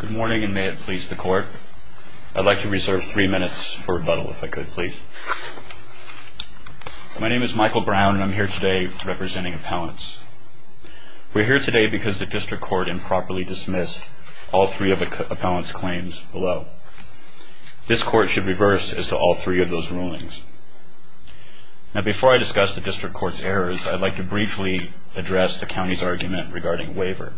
Good morning, and may it please the court. I'd like to reserve three minutes for rebuttal, if I could, please. My name is Michael Brown, and I'm here today representing appellants. We're here today because the district court improperly dismissed all three of the appellant's claims below. This court should reverse as to all three of those rulings. Now, before I discuss the district court's errors, I'd like to briefly address the county's argument regarding waiver.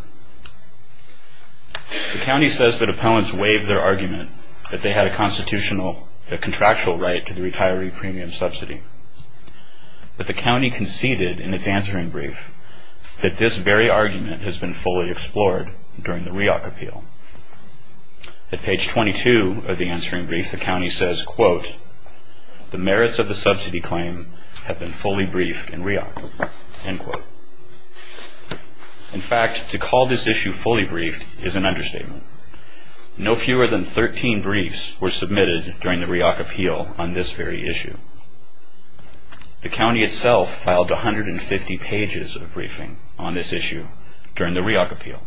The county says that appellants waived their argument that they had a constitutional, a contractual right to the retiree premium subsidy. But the county conceded in its answering brief that this very argument has been fully explored during the REOC appeal. At page 22 of the answering brief, the county says, quote, the merits of the subsidy claim have been fully briefed in REOC, end quote. In fact, to call this issue fully briefed is an understatement. No fewer than 13 briefs were submitted during the REOC appeal on this very issue. The county itself filed 150 pages of briefing on this issue during the REOC appeal.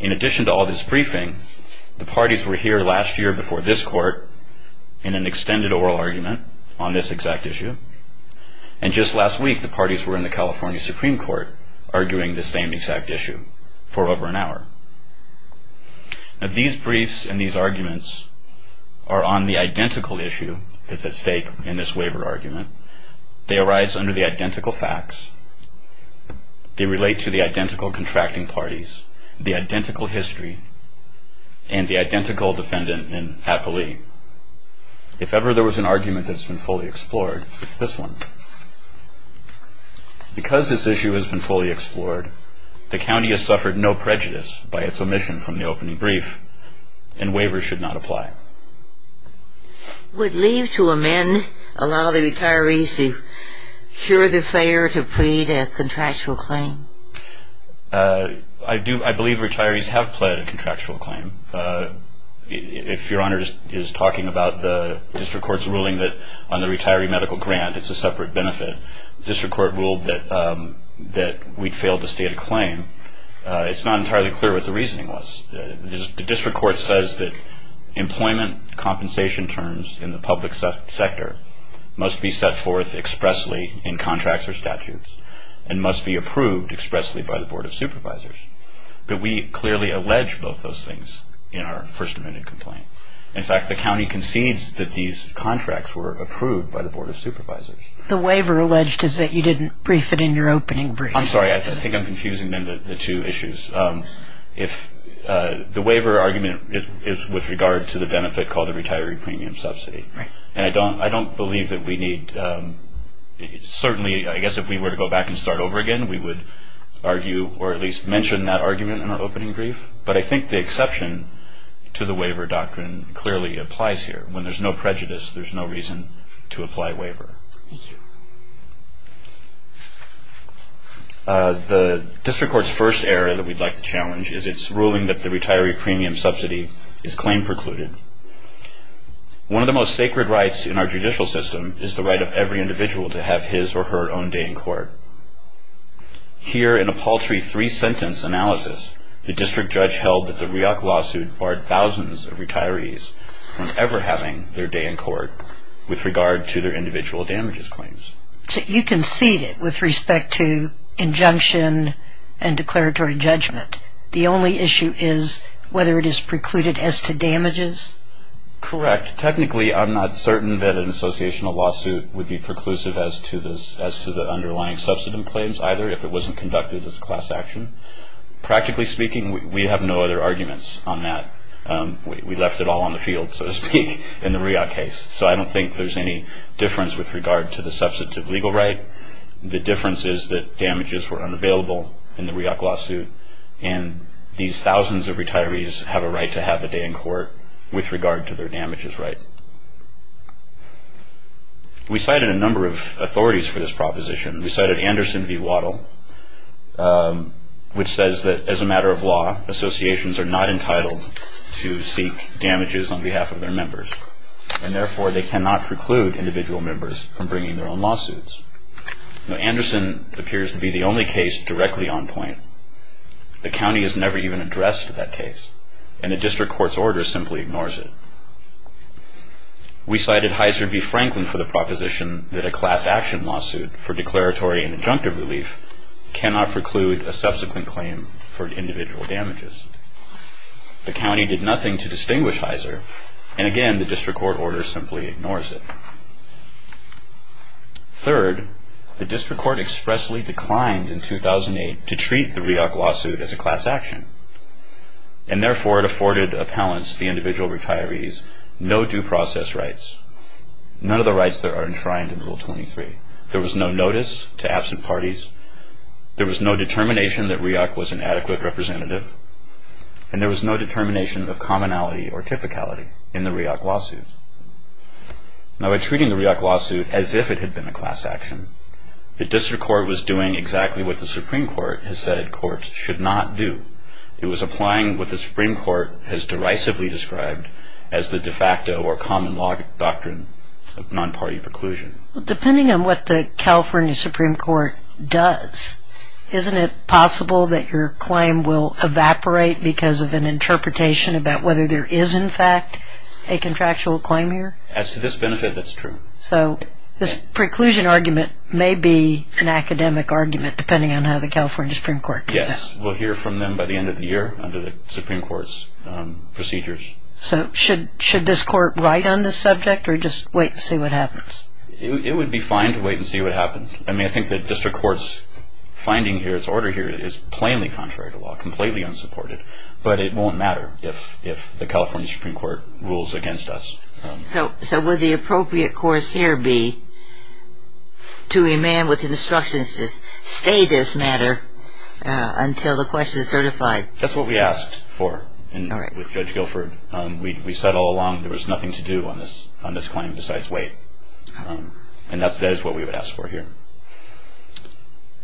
In addition to all this briefing, the parties were here last year before this court in an extended oral argument on this exact issue. And just last week, the parties were in the California Supreme Court arguing this same exact issue for over an hour. Now, these briefs and these arguments are on the identical issue that's at stake in this waiver argument. They arise under the identical facts. They relate to the identical contracting parties, the identical history, and the identical defendant in appellee. If ever there was an argument that's been fully explored, it's this one. Because this issue has been fully explored, the county has suffered no prejudice by its omission from the opening brief, and waivers should not apply. Would leave to amend allow the retirees to cure the fare to plead a contractual claim? I believe retirees have pled a contractual claim. If Your Honor is talking about the district court's ruling that on the retiree medical grant, it's a separate benefit, the district court ruled that we failed to state a claim, it's not entirely clear what the reasoning was. The district court says that employment compensation terms in the public sector must be set forth expressly in contracts or statutes and must be approved expressly by the Board of Supervisors. But we clearly allege both those things in our First Amendment complaint. In fact, the county concedes that these contracts were approved by the Board of Supervisors. The waiver alleged is that you didn't brief it in your opening brief. I'm sorry, I think I'm confusing then the two issues. The waiver argument is with regard to the benefit called the retiree premium subsidy. And I don't believe that we need, certainly I guess if we were to go back and start over again, we would argue or at least mention that argument in our opening brief. But I think the exception to the waiver doctrine clearly applies here. When there's no prejudice, there's no reason to apply waiver. The district court's first error that we'd like to challenge is its ruling that the retiree premium subsidy is claim precluded. One of the most sacred rights in our judicial system is the right of every individual to have his or her own day in court. Here in a paltry three-sentence analysis, the district judge held that the REAC lawsuit barred thousands of retirees from ever having their day in court with regard to their individual damages claims. So you concede it with respect to injunction and declaratory judgment. The only issue is whether it is precluded as to damages. Correct. Technically, I'm not certain that an associational lawsuit would be preclusive as to the underlying subsidy claims either if it wasn't conducted as a class action. Practically speaking, we have no other arguments on that. We left it all on the field, so to speak, in the REAC case. So I don't think there's any difference with regard to the substantive legal right. The difference is that damages were unavailable in the REAC lawsuit, and these thousands of retirees have a right to have a day in court with regard to their damages right. We cited a number of authorities for this proposition. We cited Anderson v. Waddell, which says that as a matter of law, associations are not entitled to seek damages on behalf of their members, and therefore they cannot preclude individual members from bringing their own lawsuits. Now, Anderson appears to be the only case directly on point. The county has never even addressed that case, and the district court's order simply ignores it. We cited Heiser v. Franklin for the proposition that a class action lawsuit for declaratory and injunctive relief cannot preclude a subsequent claim for individual damages. The county did nothing to distinguish Heiser, and again, the district court order simply ignores it. Third, the district court expressly declined in 2008 to treat the REAC lawsuit as a class action, and therefore it afforded appellants, the individual retirees, no due process rights, none of the rights that are enshrined in Rule 23. There was no notice to absent parties. There was no determination that REAC was an adequate representative, and there was no determination of commonality or typicality in the REAC lawsuit. Now, by treating the REAC lawsuit as if it had been a class action, the district court was doing exactly what the Supreme Court has said courts should not do. It was applying what the Supreme Court has derisively described as the de facto or common law doctrine of non-party preclusion. Well, depending on what the California Supreme Court does, isn't it possible that your claim will evaporate because of an interpretation about whether there is, in fact, a contractual claim here? As to this benefit, that's true. So this preclusion argument may be an academic argument, depending on how the California Supreme Court does that. Yes, we'll hear from them by the end of the year under the Supreme Court's procedures. So should this court write on this subject, or just wait and see what happens? It would be fine to wait and see what happens. I mean, I think the district court's finding here, its order here, is plainly contrary to law, completely unsupported. But it won't matter if the California Supreme Court rules against us. So would the appropriate course here be to demand with instructions to stay this matter until the question is certified? That's what we asked for with Judge Guilford. We said all along there was nothing to do on this claim besides wait. And that is what we would ask for here.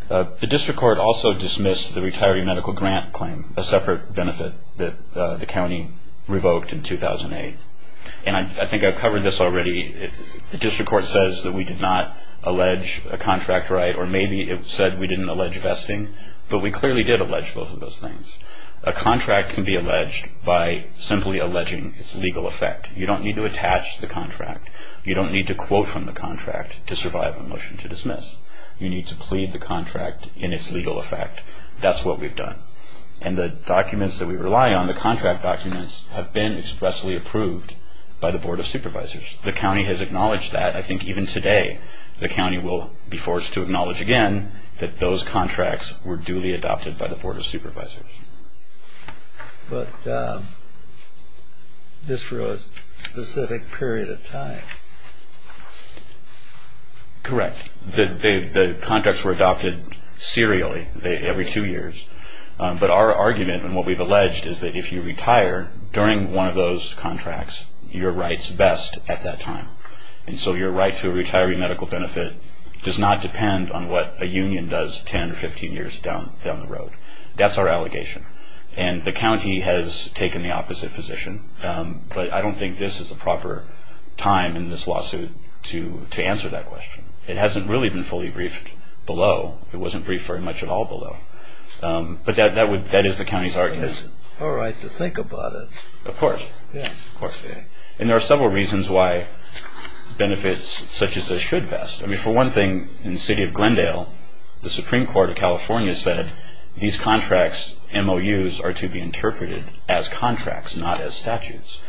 The district court also dismissed the retiree medical grant claim, a separate benefit that the county revoked in 2008. And I think I've covered this already. The district court says that we did not allege a contract right, or maybe it said we didn't allege vesting. But we clearly did allege both of those things. A contract can be alleged by simply alleging its legal effect. You don't need to attach the contract. You don't need to quote from the contract to survive a motion to dismiss. You need to plead the contract in its legal effect. That's what we've done. And the documents that we rely on, the contract documents, have been expressly approved by the Board of Supervisors. The county has acknowledged that. I think even today the county will be forced to acknowledge again that those contracts were duly adopted by the Board of Supervisors. But just for a specific period of time. Correct. The contracts were adopted serially, every two years. But our argument, and what we've alleged, is that if you retire during one of those contracts, your rights vest at that time. And so your right to a retiree medical benefit does not depend on what a union does 10 or 15 years down the road. That's our allegation. And the county has taken the opposite position. But I don't think this is the proper time in this lawsuit to answer that question. It hasn't really been fully briefed below. It wasn't briefed very much at all below. But that is the county's argument. It's all right to think about it. Of course. Yeah, of course. And there are several reasons why benefits such as this should vest. I mean, for one thing, in the city of Glendale, the Supreme Court of California said these contracts, MOUs, are to be interpreted as contracts, not as statutes.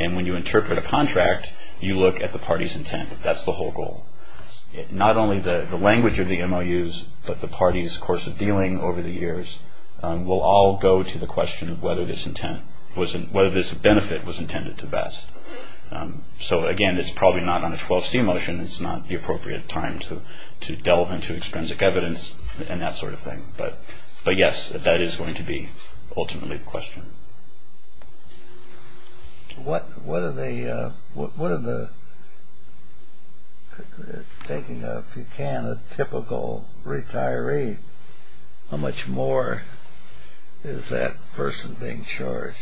And when you interpret a contract, you look at the party's intent. That's the whole goal. Not only the language of the MOUs, but the party's course of dealing over the years will all go to the question of whether this benefit was intended to vest. So, again, it's probably not on a 12C motion. It's not the appropriate time to delve into extrinsic evidence and that sort of thing. But, yes, that is going to be ultimately the question. What are the – taking, if you can, a typical retiree, how much more is that person being charged?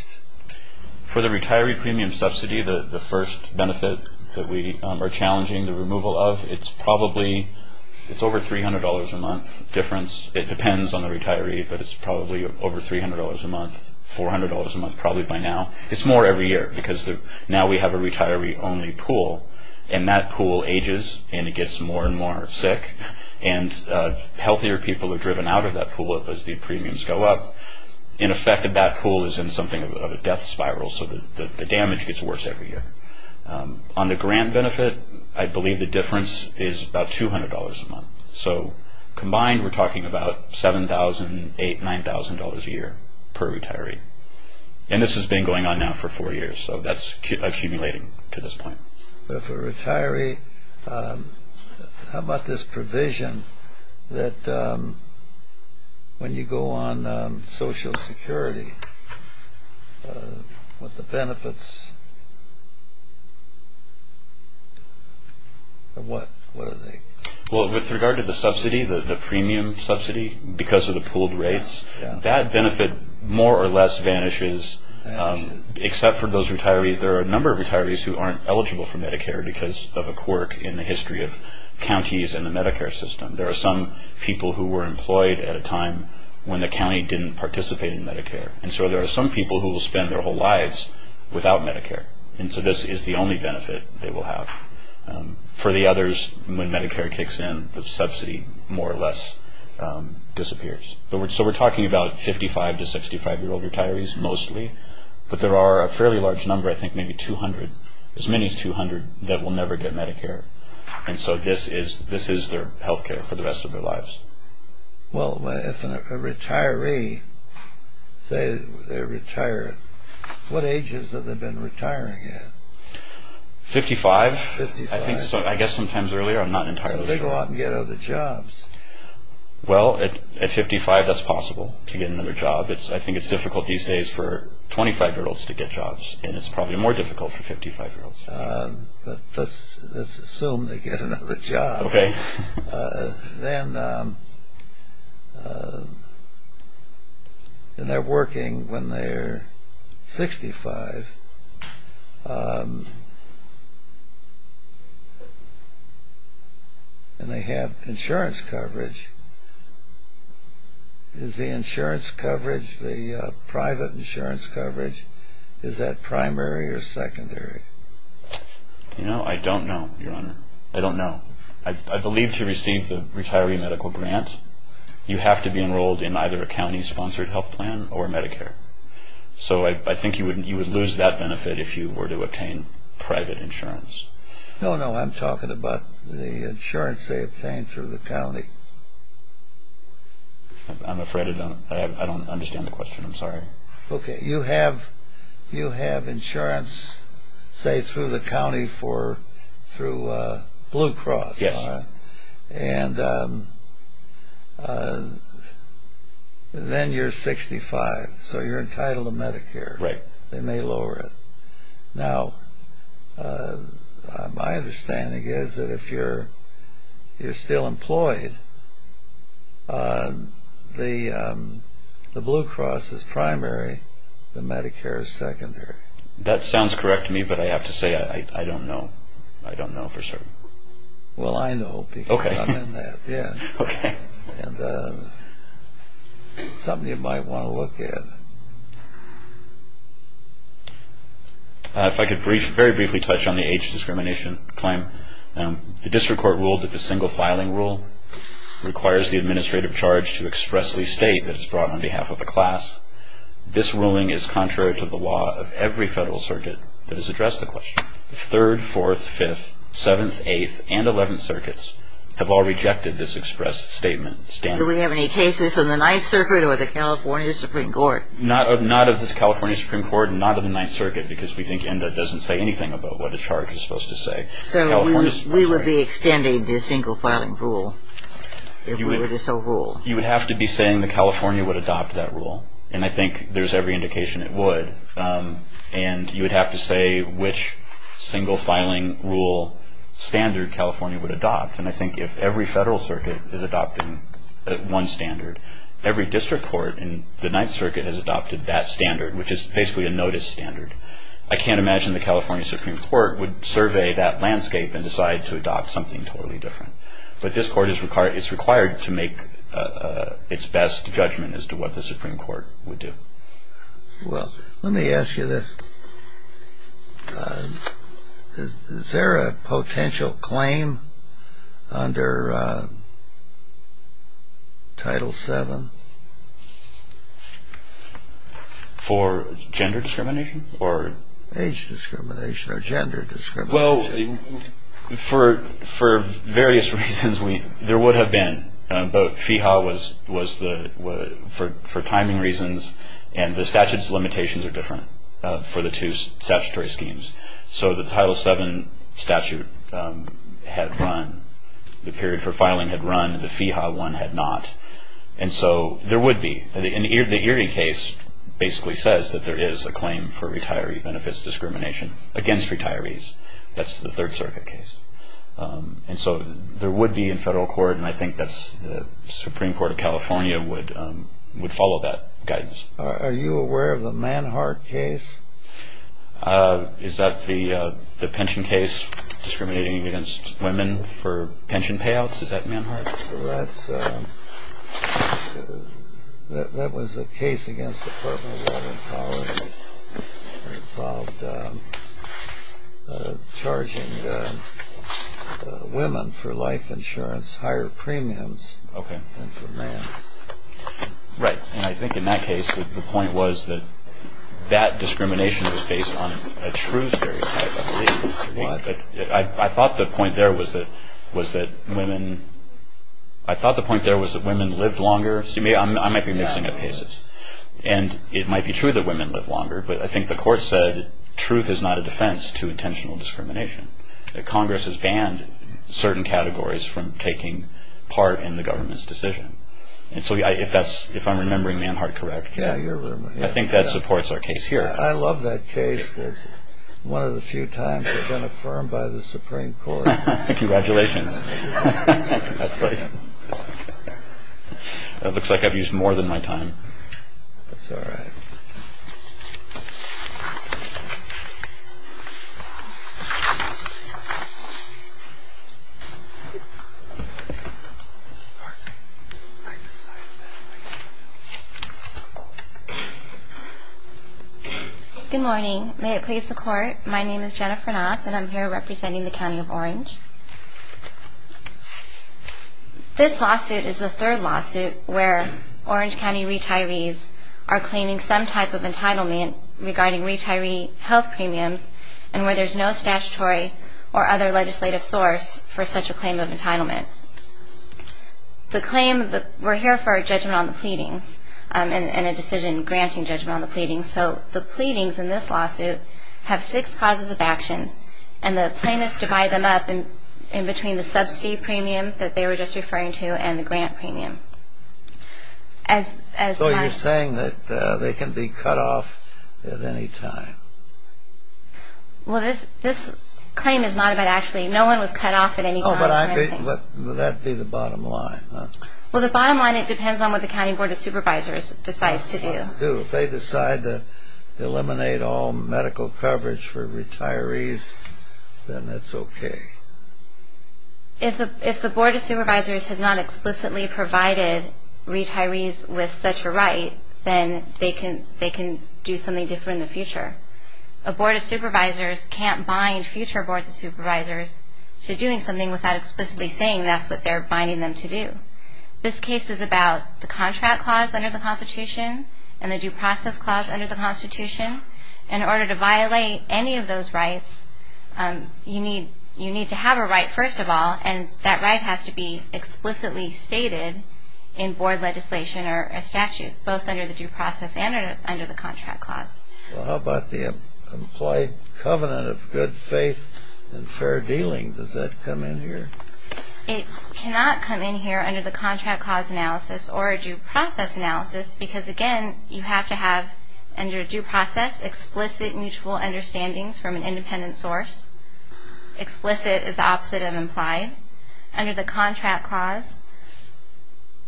For the retiree premium subsidy, the first benefit that we are challenging the removal of, it's probably – it's over $300 a month difference. It depends on the retiree, but it's probably over $300 a month, $400 a month probably by now. It's more every year because now we have a retiree-only pool, and that pool ages and it gets more and more sick, and healthier people are driven out of that pool as the premiums go up. In effect, that pool is in something of a death spiral, so the damage gets worse every year. On the grant benefit, I believe the difference is about $200 a month. So, combined, we're talking about $7,000, $8,000, $9,000 a year per retiree. And this has been going on now for four years, so that's accumulating to this point. But if a retiree – how about this provision that when you go on Social Security, what the benefits – what are they? Well, with regard to the subsidy, the premium subsidy, because of the pooled rates, that benefit more or less vanishes, except for those retirees. Actually, there are a number of retirees who aren't eligible for Medicare because of a quirk in the history of counties and the Medicare system. There are some people who were employed at a time when the county didn't participate in Medicare, and so there are some people who will spend their whole lives without Medicare, and so this is the only benefit they will have. For the others, when Medicare kicks in, the subsidy more or less disappears. So we're talking about 55- to 65-year-old retirees mostly, but there are a fairly large number, I think maybe 200, as many as 200, that will never get Medicare. And so this is their health care for the rest of their lives. Well, if a retiree, say they retire, what ages have they been retiring at? Fifty-five, I guess sometimes earlier. I'm not entirely sure. But they go out and get other jobs. Well, at 55, that's possible to get another job. I think it's difficult these days for 25-year-olds to get jobs, and it's probably more difficult for 55-year-olds. Let's assume they get another job. Okay. And they're working when they're 65, and they have insurance coverage. Is the insurance coverage, the private insurance coverage, is that primary or secondary? You know, I don't know, Your Honor. I don't know. I believe to receive the retiree medical grant, you have to be enrolled in either a county-sponsored health plan or Medicare. So I think you would lose that benefit if you were to obtain private insurance. No, no, I'm talking about the insurance they obtain through the county. I'm afraid I don't understand the question. I'm sorry. Okay. You have insurance, say, through the county through Blue Cross. Yes. And then you're 65, so you're entitled to Medicare. Right. They may lower it. Now, my understanding is that if you're still employed, the Blue Cross is primary. The Medicare is secondary. That sounds correct to me, but I have to say I don't know. I don't know for certain. Well, I know because I'm in that. Okay. And something you might want to look at. If I could very briefly touch on the age discrimination claim. The district court ruled that the single filing rule requires the administrative charge to expressly state that it's brought on behalf of a class. This ruling is contrary to the law of every federal circuit that has addressed the question. The 3rd, 4th, 5th, 7th, 8th, and 11th circuits have all rejected this express statement. Do we have any cases from the 9th Circuit or the California Supreme Court? Not of the California Supreme Court, not of the 9th Circuit, because we think ENDA doesn't say anything about what a charge is supposed to say. So we would be extending the single filing rule if we were to so rule. You would have to be saying that California would adopt that rule, and I think there's every indication it would. And you would have to say which single filing rule standard California would adopt. And I think if every federal circuit is adopting one standard, every district court in the 9th Circuit has adopted that standard, which is basically a notice standard. I can't imagine the California Supreme Court would survey that landscape and decide to adopt something totally different. But this court is required to make its best judgment as to what the Supreme Court would do. Well, let me ask you this. Is there a potential claim under Title VII? For gender discrimination? Age discrimination or gender discrimination? Well, for various reasons, there would have been. But FEHA was for timing reasons, and the statute's limitations are different for the two statutory schemes. So the Title VII statute had run. The period for filing had run. The FEHA one had not. And so there would be. The Erie case basically says that there is a claim for retiree benefits discrimination against retirees. That's the 3rd Circuit case. And so there would be in federal court, and I think the Supreme Court of California would follow that guidance. Are you aware of the Manhart case? Is that the pension case discriminating against women for pension payouts? Is that Manhart? Well, that was a case against the Department of Labor and Poverty. It involved charging women for life insurance higher premiums than for men. Right. And I think in that case, the point was that that discrimination was based on a true stereotype, I believe. I thought the point there was that women lived longer. See, I might be mixing up cases. And it might be true that women live longer, but I think the court said truth is not a defense to intentional discrimination. Congress has banned certain categories from taking part in the government's decision. And so if I'm remembering Manhart correct, I think that supports our case here. I love that case because one of the few times it's been affirmed by the Supreme Court. Congratulations. It looks like I've used more than my time. That's all right. Good morning. May it please the Court. My name is Jennifer Knoth, and I'm here representing the County of Orange. This lawsuit is the third lawsuit where Orange County retirees are claiming some type of entitlement regarding retiree health premiums and where there's no statutory or other legislative source for such a claim of entitlement. The claim, we're here for a judgment on the pleadings and a decision granting judgment on the pleadings. So the pleadings in this lawsuit have six causes of action, and the plaintiffs divide them up in between the subsidy premium that they were just referring to and the grant premium. So you're saying that they can be cut off at any time? Well, this claim is not about actually. No one was cut off at any time or anything. Would that be the bottom line? Well, the bottom line, it depends on what the County Board of Supervisors decides to do. If they decide to eliminate all medical coverage for retirees, then it's okay. If the Board of Supervisors has not explicitly provided retirees with such a right, then they can do something different in the future. A Board of Supervisors can't bind future Boards of Supervisors to doing something without explicitly saying that's what they're binding them to do. This case is about the contract clause under the Constitution and the due process clause under the Constitution. In order to violate any of those rights, you need to have a right, first of all, and that right has to be explicitly stated in Board legislation or a statute, both under the due process and under the contract clause. Well, how about the implied covenant of good faith and fair dealing? Does that come in here? It cannot come in here under the contract clause analysis or a due process analysis because, again, you have to have, under due process, explicit mutual understandings from an independent source. Explicit is the opposite of implied. Under the contract clause,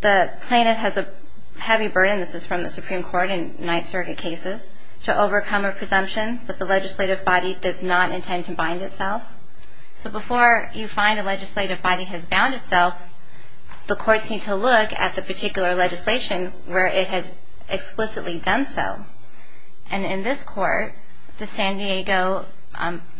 the plaintiff has a heavy burden, this is from the Supreme Court in Ninth Circuit cases, to overcome a presumption that the legislative body does not intend to bind itself. So before you find a legislative body has bound itself, the courts need to look at the particular legislation where it has explicitly done so. And in this court, the San Diego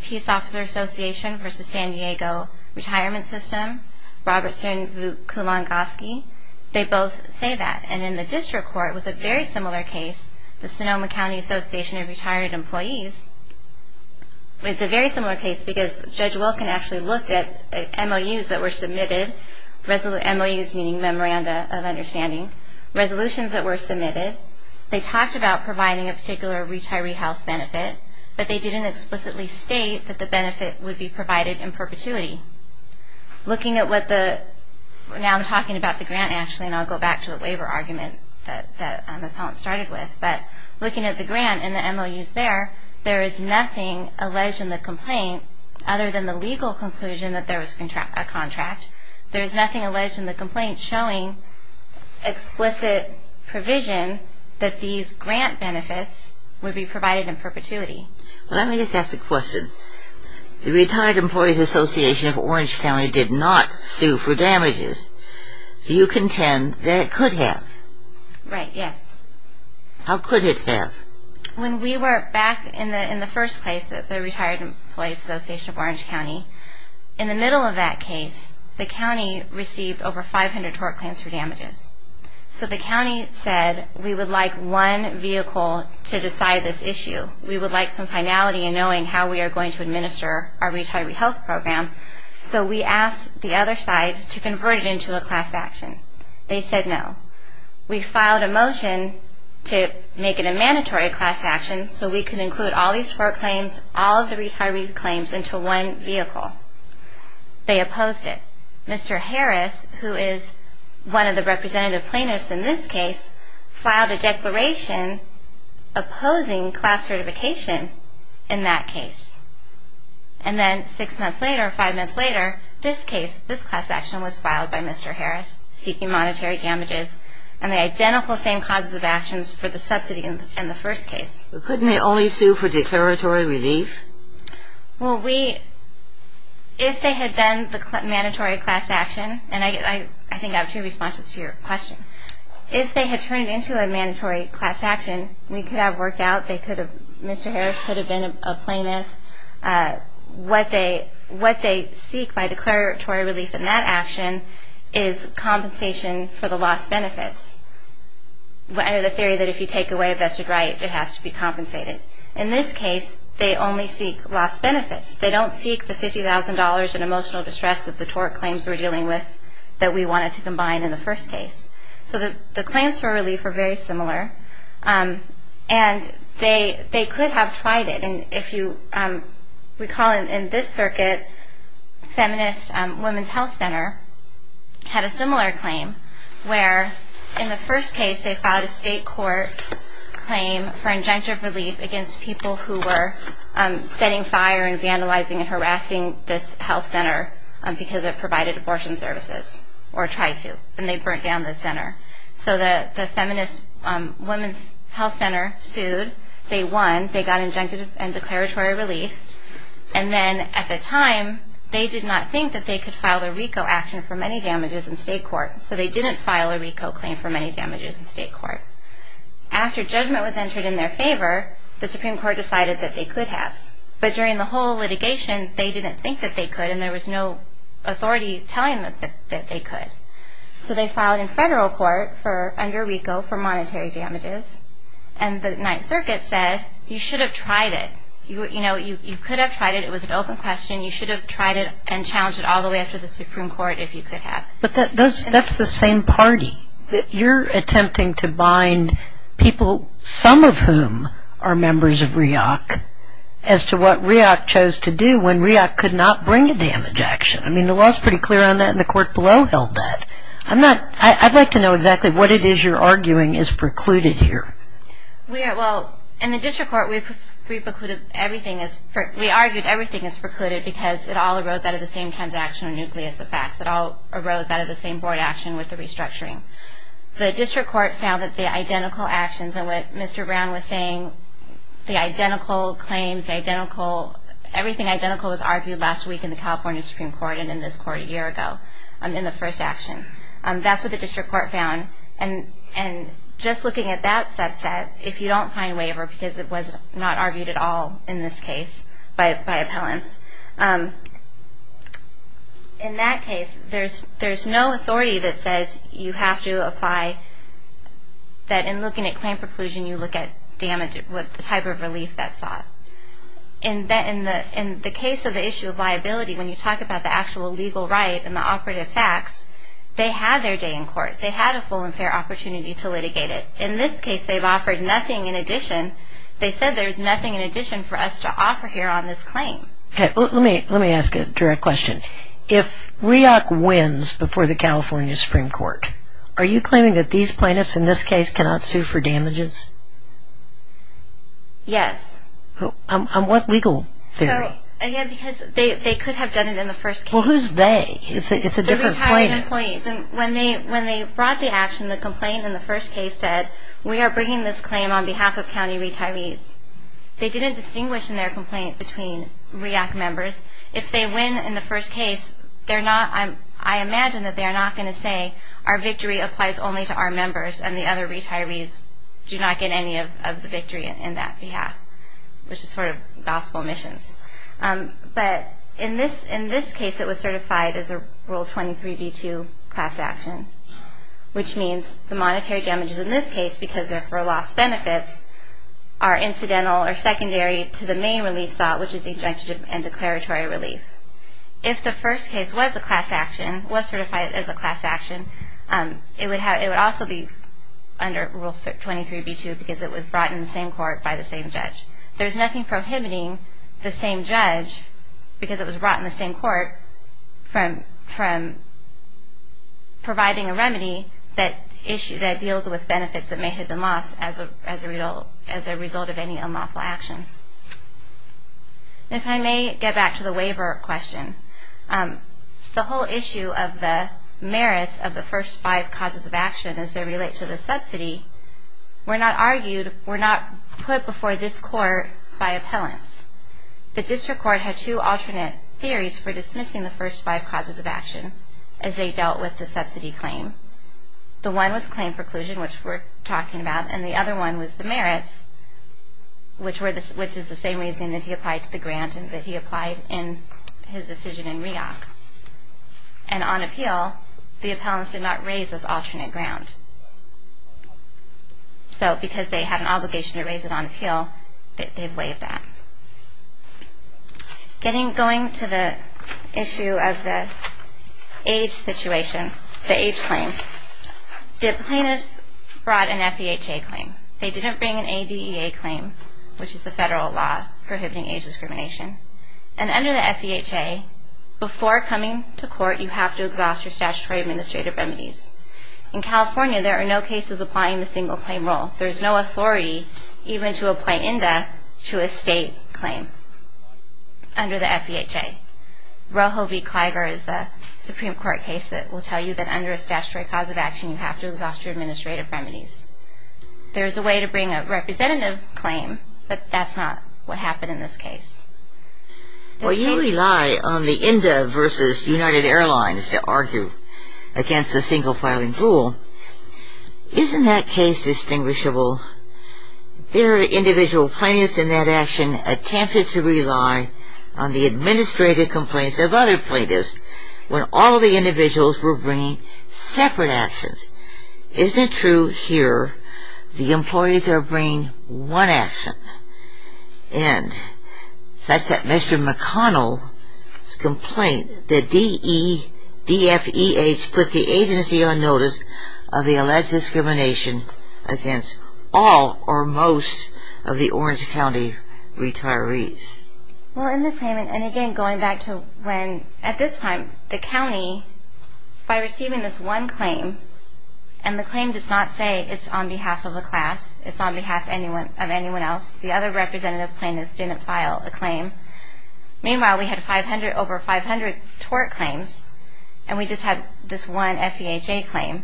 Peace Officer Association versus San Diego Retirement System, Robertson v. Kulongoski, they both say that. And in the district court with a very similar case, the Sonoma County Association of Retired Employees, it's a very similar case because Judge Wilkin actually looked at MOUs that were submitted, MOUs meaning Memoranda of Understanding, resolutions that were submitted. They talked about providing a particular retiree health benefit, but they didn't explicitly state that the benefit would be provided in perpetuity. Looking at what the, now I'm talking about the grant, actually, and I'll go back to the waiver argument that the appellant started with, but looking at the grant and the MOUs there, there is nothing alleged in the complaint other than the legal conclusion that there was a contract. There is nothing alleged in the complaint showing explicit provision that these grant benefits would be provided in perpetuity. Let me just ask a question. The Retired Employees Association of Orange County did not sue for damages. Do you contend that it could have? Right, yes. How could it have? When we were back in the first place, the Retired Employees Association of Orange County, in the middle of that case, the county received over 500 tort claims for damages. So the county said we would like one vehicle to decide this issue. We would like some finality in knowing how we are going to administer our retiree health program. So we asked the other side to convert it into a class action. They said no. We filed a motion to make it a mandatory class action so we could include all these tort claims, all of the retiree claims into one vehicle. They opposed it. Mr. Harris, who is one of the representative plaintiffs in this case, filed a declaration opposing class certification in that case. And then six months later, five months later, this case, this class action was filed by Mr. Harris seeking monetary damages and the identical same causes of actions for the subsidy in the first case. Couldn't they only sue for declaratory relief? Well, if they had done the mandatory class action, and I think I have two responses to your question. If they had turned it into a mandatory class action, we could have worked out that Mr. Harris could have been a plaintiff. What they seek by declaratory relief in that action is compensation for the lost benefits. Under the theory that if you take away a vested right, it has to be compensated. In this case, they only seek lost benefits. They don't seek the $50,000 in emotional distress that the tort claims were dealing with that we wanted to combine in the first case. So the claims for relief are very similar. And they could have tried it. And if you recall in this circuit, Feminist Women's Health Center had a similar claim where in the first case they filed a state court claim for injunctive relief against people who were setting fire and vandalizing and harassing this health center because it provided abortion services, or tried to, and they burnt down the center. So the Feminist Women's Health Center sued. They won. They got injunctive and declaratory relief. And then at the time, they did not think that they could file a RICO action for many damages in state court, so they didn't file a RICO claim for many damages in state court. After judgment was entered in their favor, the Supreme Court decided that they could have. But during the whole litigation, they didn't think that they could, and there was no authority telling them that they could. So they filed in federal court under RICO for monetary damages, and the Ninth Circuit said you should have tried it. You know, you could have tried it. It was an open question. You should have tried it and challenged it all the way up to the Supreme Court if you could have. But that's the same party. You're attempting to bind people, some of whom are members of REAC, as to what REAC chose to do when REAC could not bring a damage action. I mean, the law is pretty clear on that, and the court below held that. I'd like to know exactly what it is you're arguing is precluded here. Well, in the district court, we argued everything is precluded because it all arose out of the same transactional nucleus of facts. It all arose out of the same board action with the restructuring. The district court found that the identical actions, and what Mr. Brown was saying, the identical claims, everything identical was argued last week in the California Supreme Court and in this court a year ago in the first action. That's what the district court found. And just looking at that subset, if you don't find waiver, because it was not argued at all in this case by appellants, in that case there's no authority that says you have to apply that in looking at claim preclusion and you look at the type of relief that's sought. In the case of the issue of liability, when you talk about the actual legal right and the operative facts, they had their day in court. They had a full and fair opportunity to litigate it. In this case, they've offered nothing in addition. They said there's nothing in addition for us to offer here on this claim. Let me ask a direct question. If REAC wins before the California Supreme Court, are you claiming that these plaintiffs in this case cannot sue for damages? Yes. On what legal theory? Again, because they could have done it in the first case. Well, who's they? It's a different plaintiff. The retired employees. When they brought the action, the complaint in the first case said, we are bringing this claim on behalf of county retirees. They didn't distinguish in their complaint between REAC members. If they win in the first case, I imagine that they are not going to say, our victory applies only to our members and the other retirees do not get any of the victory in that behalf, which is sort of gospel missions. But in this case, it was certified as a Rule 23b-2 class action, which means the monetary damages in this case, because they're for lost benefits, are incidental or secondary to the main relief sought, which is injunctive and declaratory relief. If the first case was a class action, was certified as a class action, it would also be under Rule 23b-2 because it was brought in the same court by the same judge. There's nothing prohibiting the same judge, because it was brought in the same court, from providing a remedy that deals with benefits that may have been lost as a result of any unlawful action. If I may get back to the waiver question, the whole issue of the merits of the first five causes of action as they relate to the subsidy were not argued, were not put before this court by appellants. The district court had two alternate theories for dismissing the first five causes of action as they dealt with the subsidy claim. The one was claim preclusion, which we're talking about, and the other one was the merits, which is the same reason that he applied to the grant and that he applied in his decision in REAC. And on appeal, the appellants did not raise this alternate ground. So because they had an obligation to raise it on appeal, they waived that. Going to the issue of the age situation, the age claim, the plaintiffs brought an FEHA claim. They didn't bring an ADEA claim, which is the federal law prohibiting age discrimination. And under the FEHA, before coming to court, you have to exhaust your statutory administrative remedies. In California, there are no cases applying the single-claim role. There's no authority even to apply in death to a state claim under the FEHA. Rojo v. Cliger is the Supreme Court case that will tell you that under a statutory cause of action, you have to exhaust your administrative remedies. There's a way to bring a representative claim, but that's not what happened in this case. Well, you rely on the INDA v. United Airlines to argue against the single-filing rule. Isn't that case distinguishable? There are individual plaintiffs in that action attempted to rely on the administrative complaints of other plaintiffs when all of the individuals were bringing separate actions. Isn't it true here the employees are bringing one action? And such that Mr. McConnell's complaint, the DEFEH put the agency on notice of the alleged discrimination against all or most of the Orange County retirees. Well, in the claim, and again going back to when, at this time, the county, by receiving this one claim, and the claim does not say it's on behalf of a class, it's on behalf of anyone else, the other representative plaintiffs didn't file a claim. Meanwhile, we had over 500 tort claims, and we just had this one FEHA claim.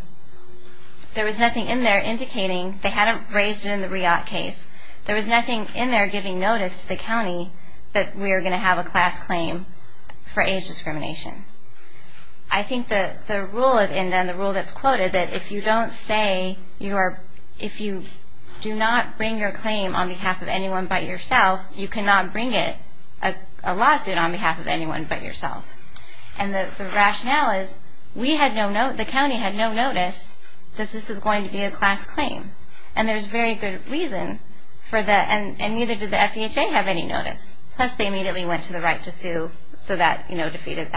There was nothing in there indicating, they hadn't raised it in the RIAT case, there was nothing in there giving notice to the county that we were going to have a class claim for age discrimination. I think that the rule of INDA and the rule that's quoted, that if you don't say you are, if you do not bring your claim on behalf of anyone but yourself, you cannot bring it, a lawsuit on behalf of anyone but yourself. And the rationale is we had no, the county had no notice that this was going to be a class claim. And there's very good reason for that, and neither did the FEHA have any notice, plus they immediately went to the right to sue, so that defeated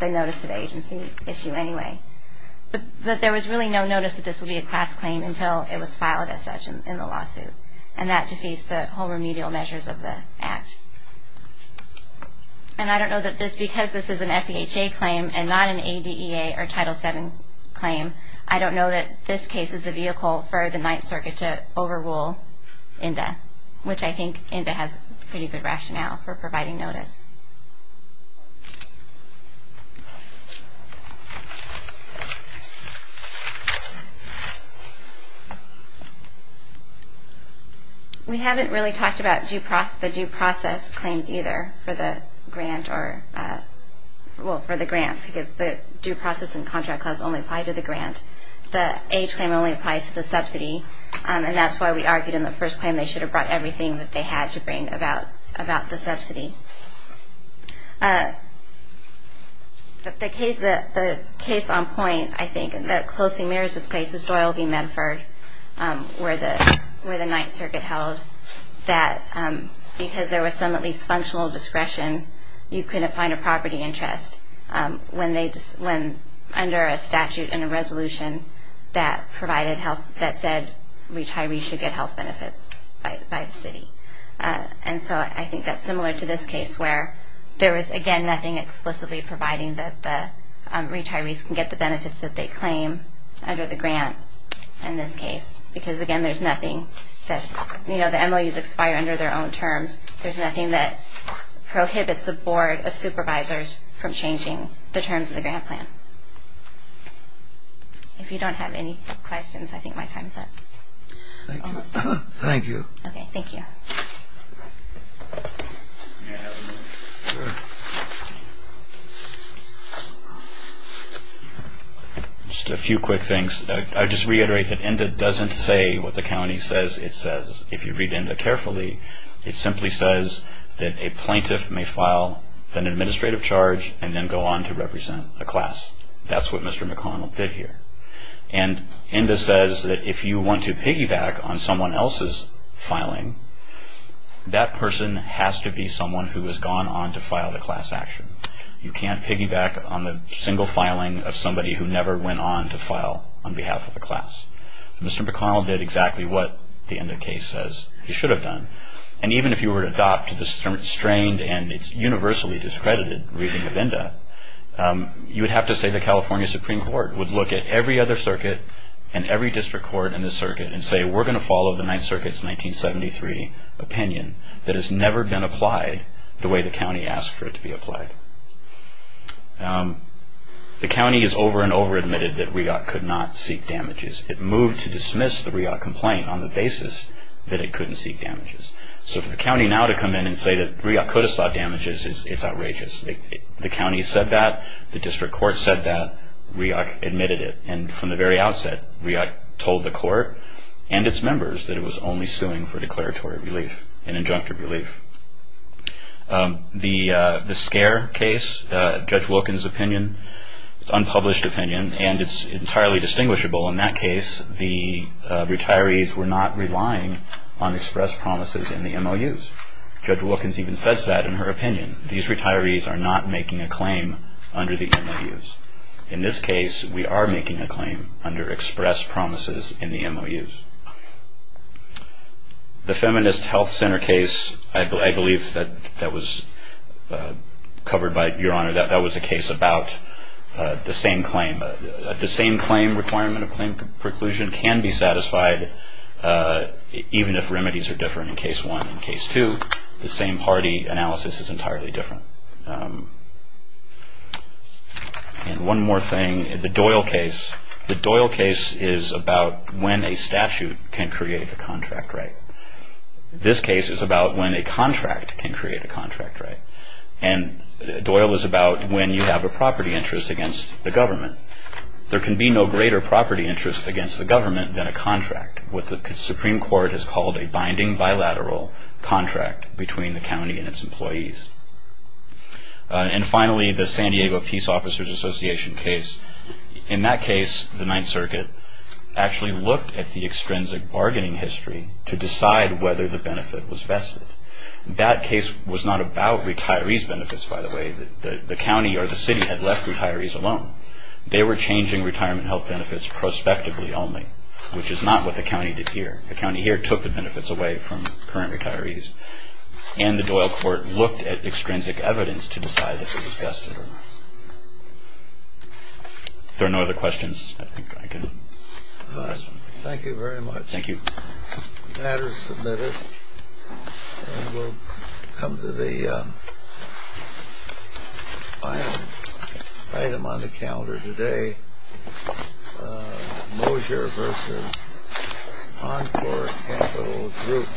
the notice to the agency issue anyway. But there was really no notice that this would be a class claim until it was filed as such in the lawsuit, and that defeats the whole remedial measures of the Act. And I don't know that this, because this is an FEHA claim and not an ADEA or Title VII claim, I don't know that this case is the vehicle for the Ninth Circuit to overrule INDA, which I think INDA has pretty good rationale for providing notice. We haven't really talked about the due process claims either for the grant or, well, for the grant, because the due process and contract clause only apply to the grant. The age claim only applies to the subsidy, and that's why we argued in the first claim they should have brought everything that they had to bring about the subsidy. The case on point, I think, that closely mirrors this case, is Doyle v. Medford, where the Ninth Circuit held that because there was some at least functional discretion, you couldn't find a property interest when under a statute and a resolution that said retirees should get health benefits by the city. And so I think that's similar to this case, where there was, again, nothing explicitly providing that the retirees can get the benefits that they claim under the grant in this case, because, again, there's nothing that, you know, the MOUs expire under their own terms. There's nothing that prohibits the Board of Supervisors from changing the terms of the grant plan. If you don't have any questions, I think my time is up. Thank you. Okay, thank you. Just a few quick things. I'll just reiterate that ENDA doesn't say what the county says it says. If you read ENDA carefully, it simply says that a plaintiff may file an administrative charge and then go on to represent a class. That's what Mr. McConnell did here. And ENDA says that if you want to piggyback on someone else's filing, that person has to be someone who has gone on to file the class action. You can't piggyback on the single filing of somebody who never went on to file on behalf of a class. Mr. McConnell did exactly what the ENDA case says he should have done. And even if you were to adopt the strained and it's universally discredited reading of ENDA, you would have to say the California Supreme Court would look at every other circuit and every district court in this circuit and say we're going to follow the Ninth Circuit's 1973 opinion that has never been applied the way the county asked for it to be applied. The county has over and over admitted that REAC could not seek damages. It moved to dismiss the REAC complaint on the basis that it couldn't seek damages. So for the county now to come in and say that REAC could have sought damages, it's outrageous. The county said that. The district court said that. REAC admitted it. And from the very outset, REAC told the court and its members that it was only suing for declaratory relief and injunctive relief. The SCARE case, Judge Wilkins' opinion, it's unpublished opinion and it's entirely distinguishable. In that case, the retirees were not relying on express promises in the MOUs. Judge Wilkins even says that in her opinion. These retirees are not making a claim under the MOUs. In this case, we are making a claim under express promises in the MOUs. The Feminist Health Center case, I believe that was covered by Your Honor, that was a case about the same claim. The same claim requirement of claim preclusion can be satisfied even if remedies are different in case one. In case two, the same party analysis is entirely different. And one more thing, the Doyle case. The Doyle case is about when a statute can create a contract right. This case is about when a contract can create a contract right. And Doyle is about when you have a property interest against the government. There can be no greater property interest against the government than a contract, what the Supreme Court has called a binding bilateral contract between the county and its employees. And finally, the San Diego Peace Officers Association case. In that case, the Ninth Circuit actually looked at the extrinsic bargaining history to decide whether the benefit was vested. That case was not about retirees' benefits, by the way. The county or the city had left retirees alone. They were changing retirement health benefits prospectively only, which is not what the county did here. The county here took the benefits away from current retirees. And the Doyle court looked at extrinsic evidence to decide if it was vested or not. If there are no other questions, I think I can close. Thank you very much. Thank you. The matter is submitted. And we'll come to the final item on the calendar today, Mosier v. Encore Capital Group.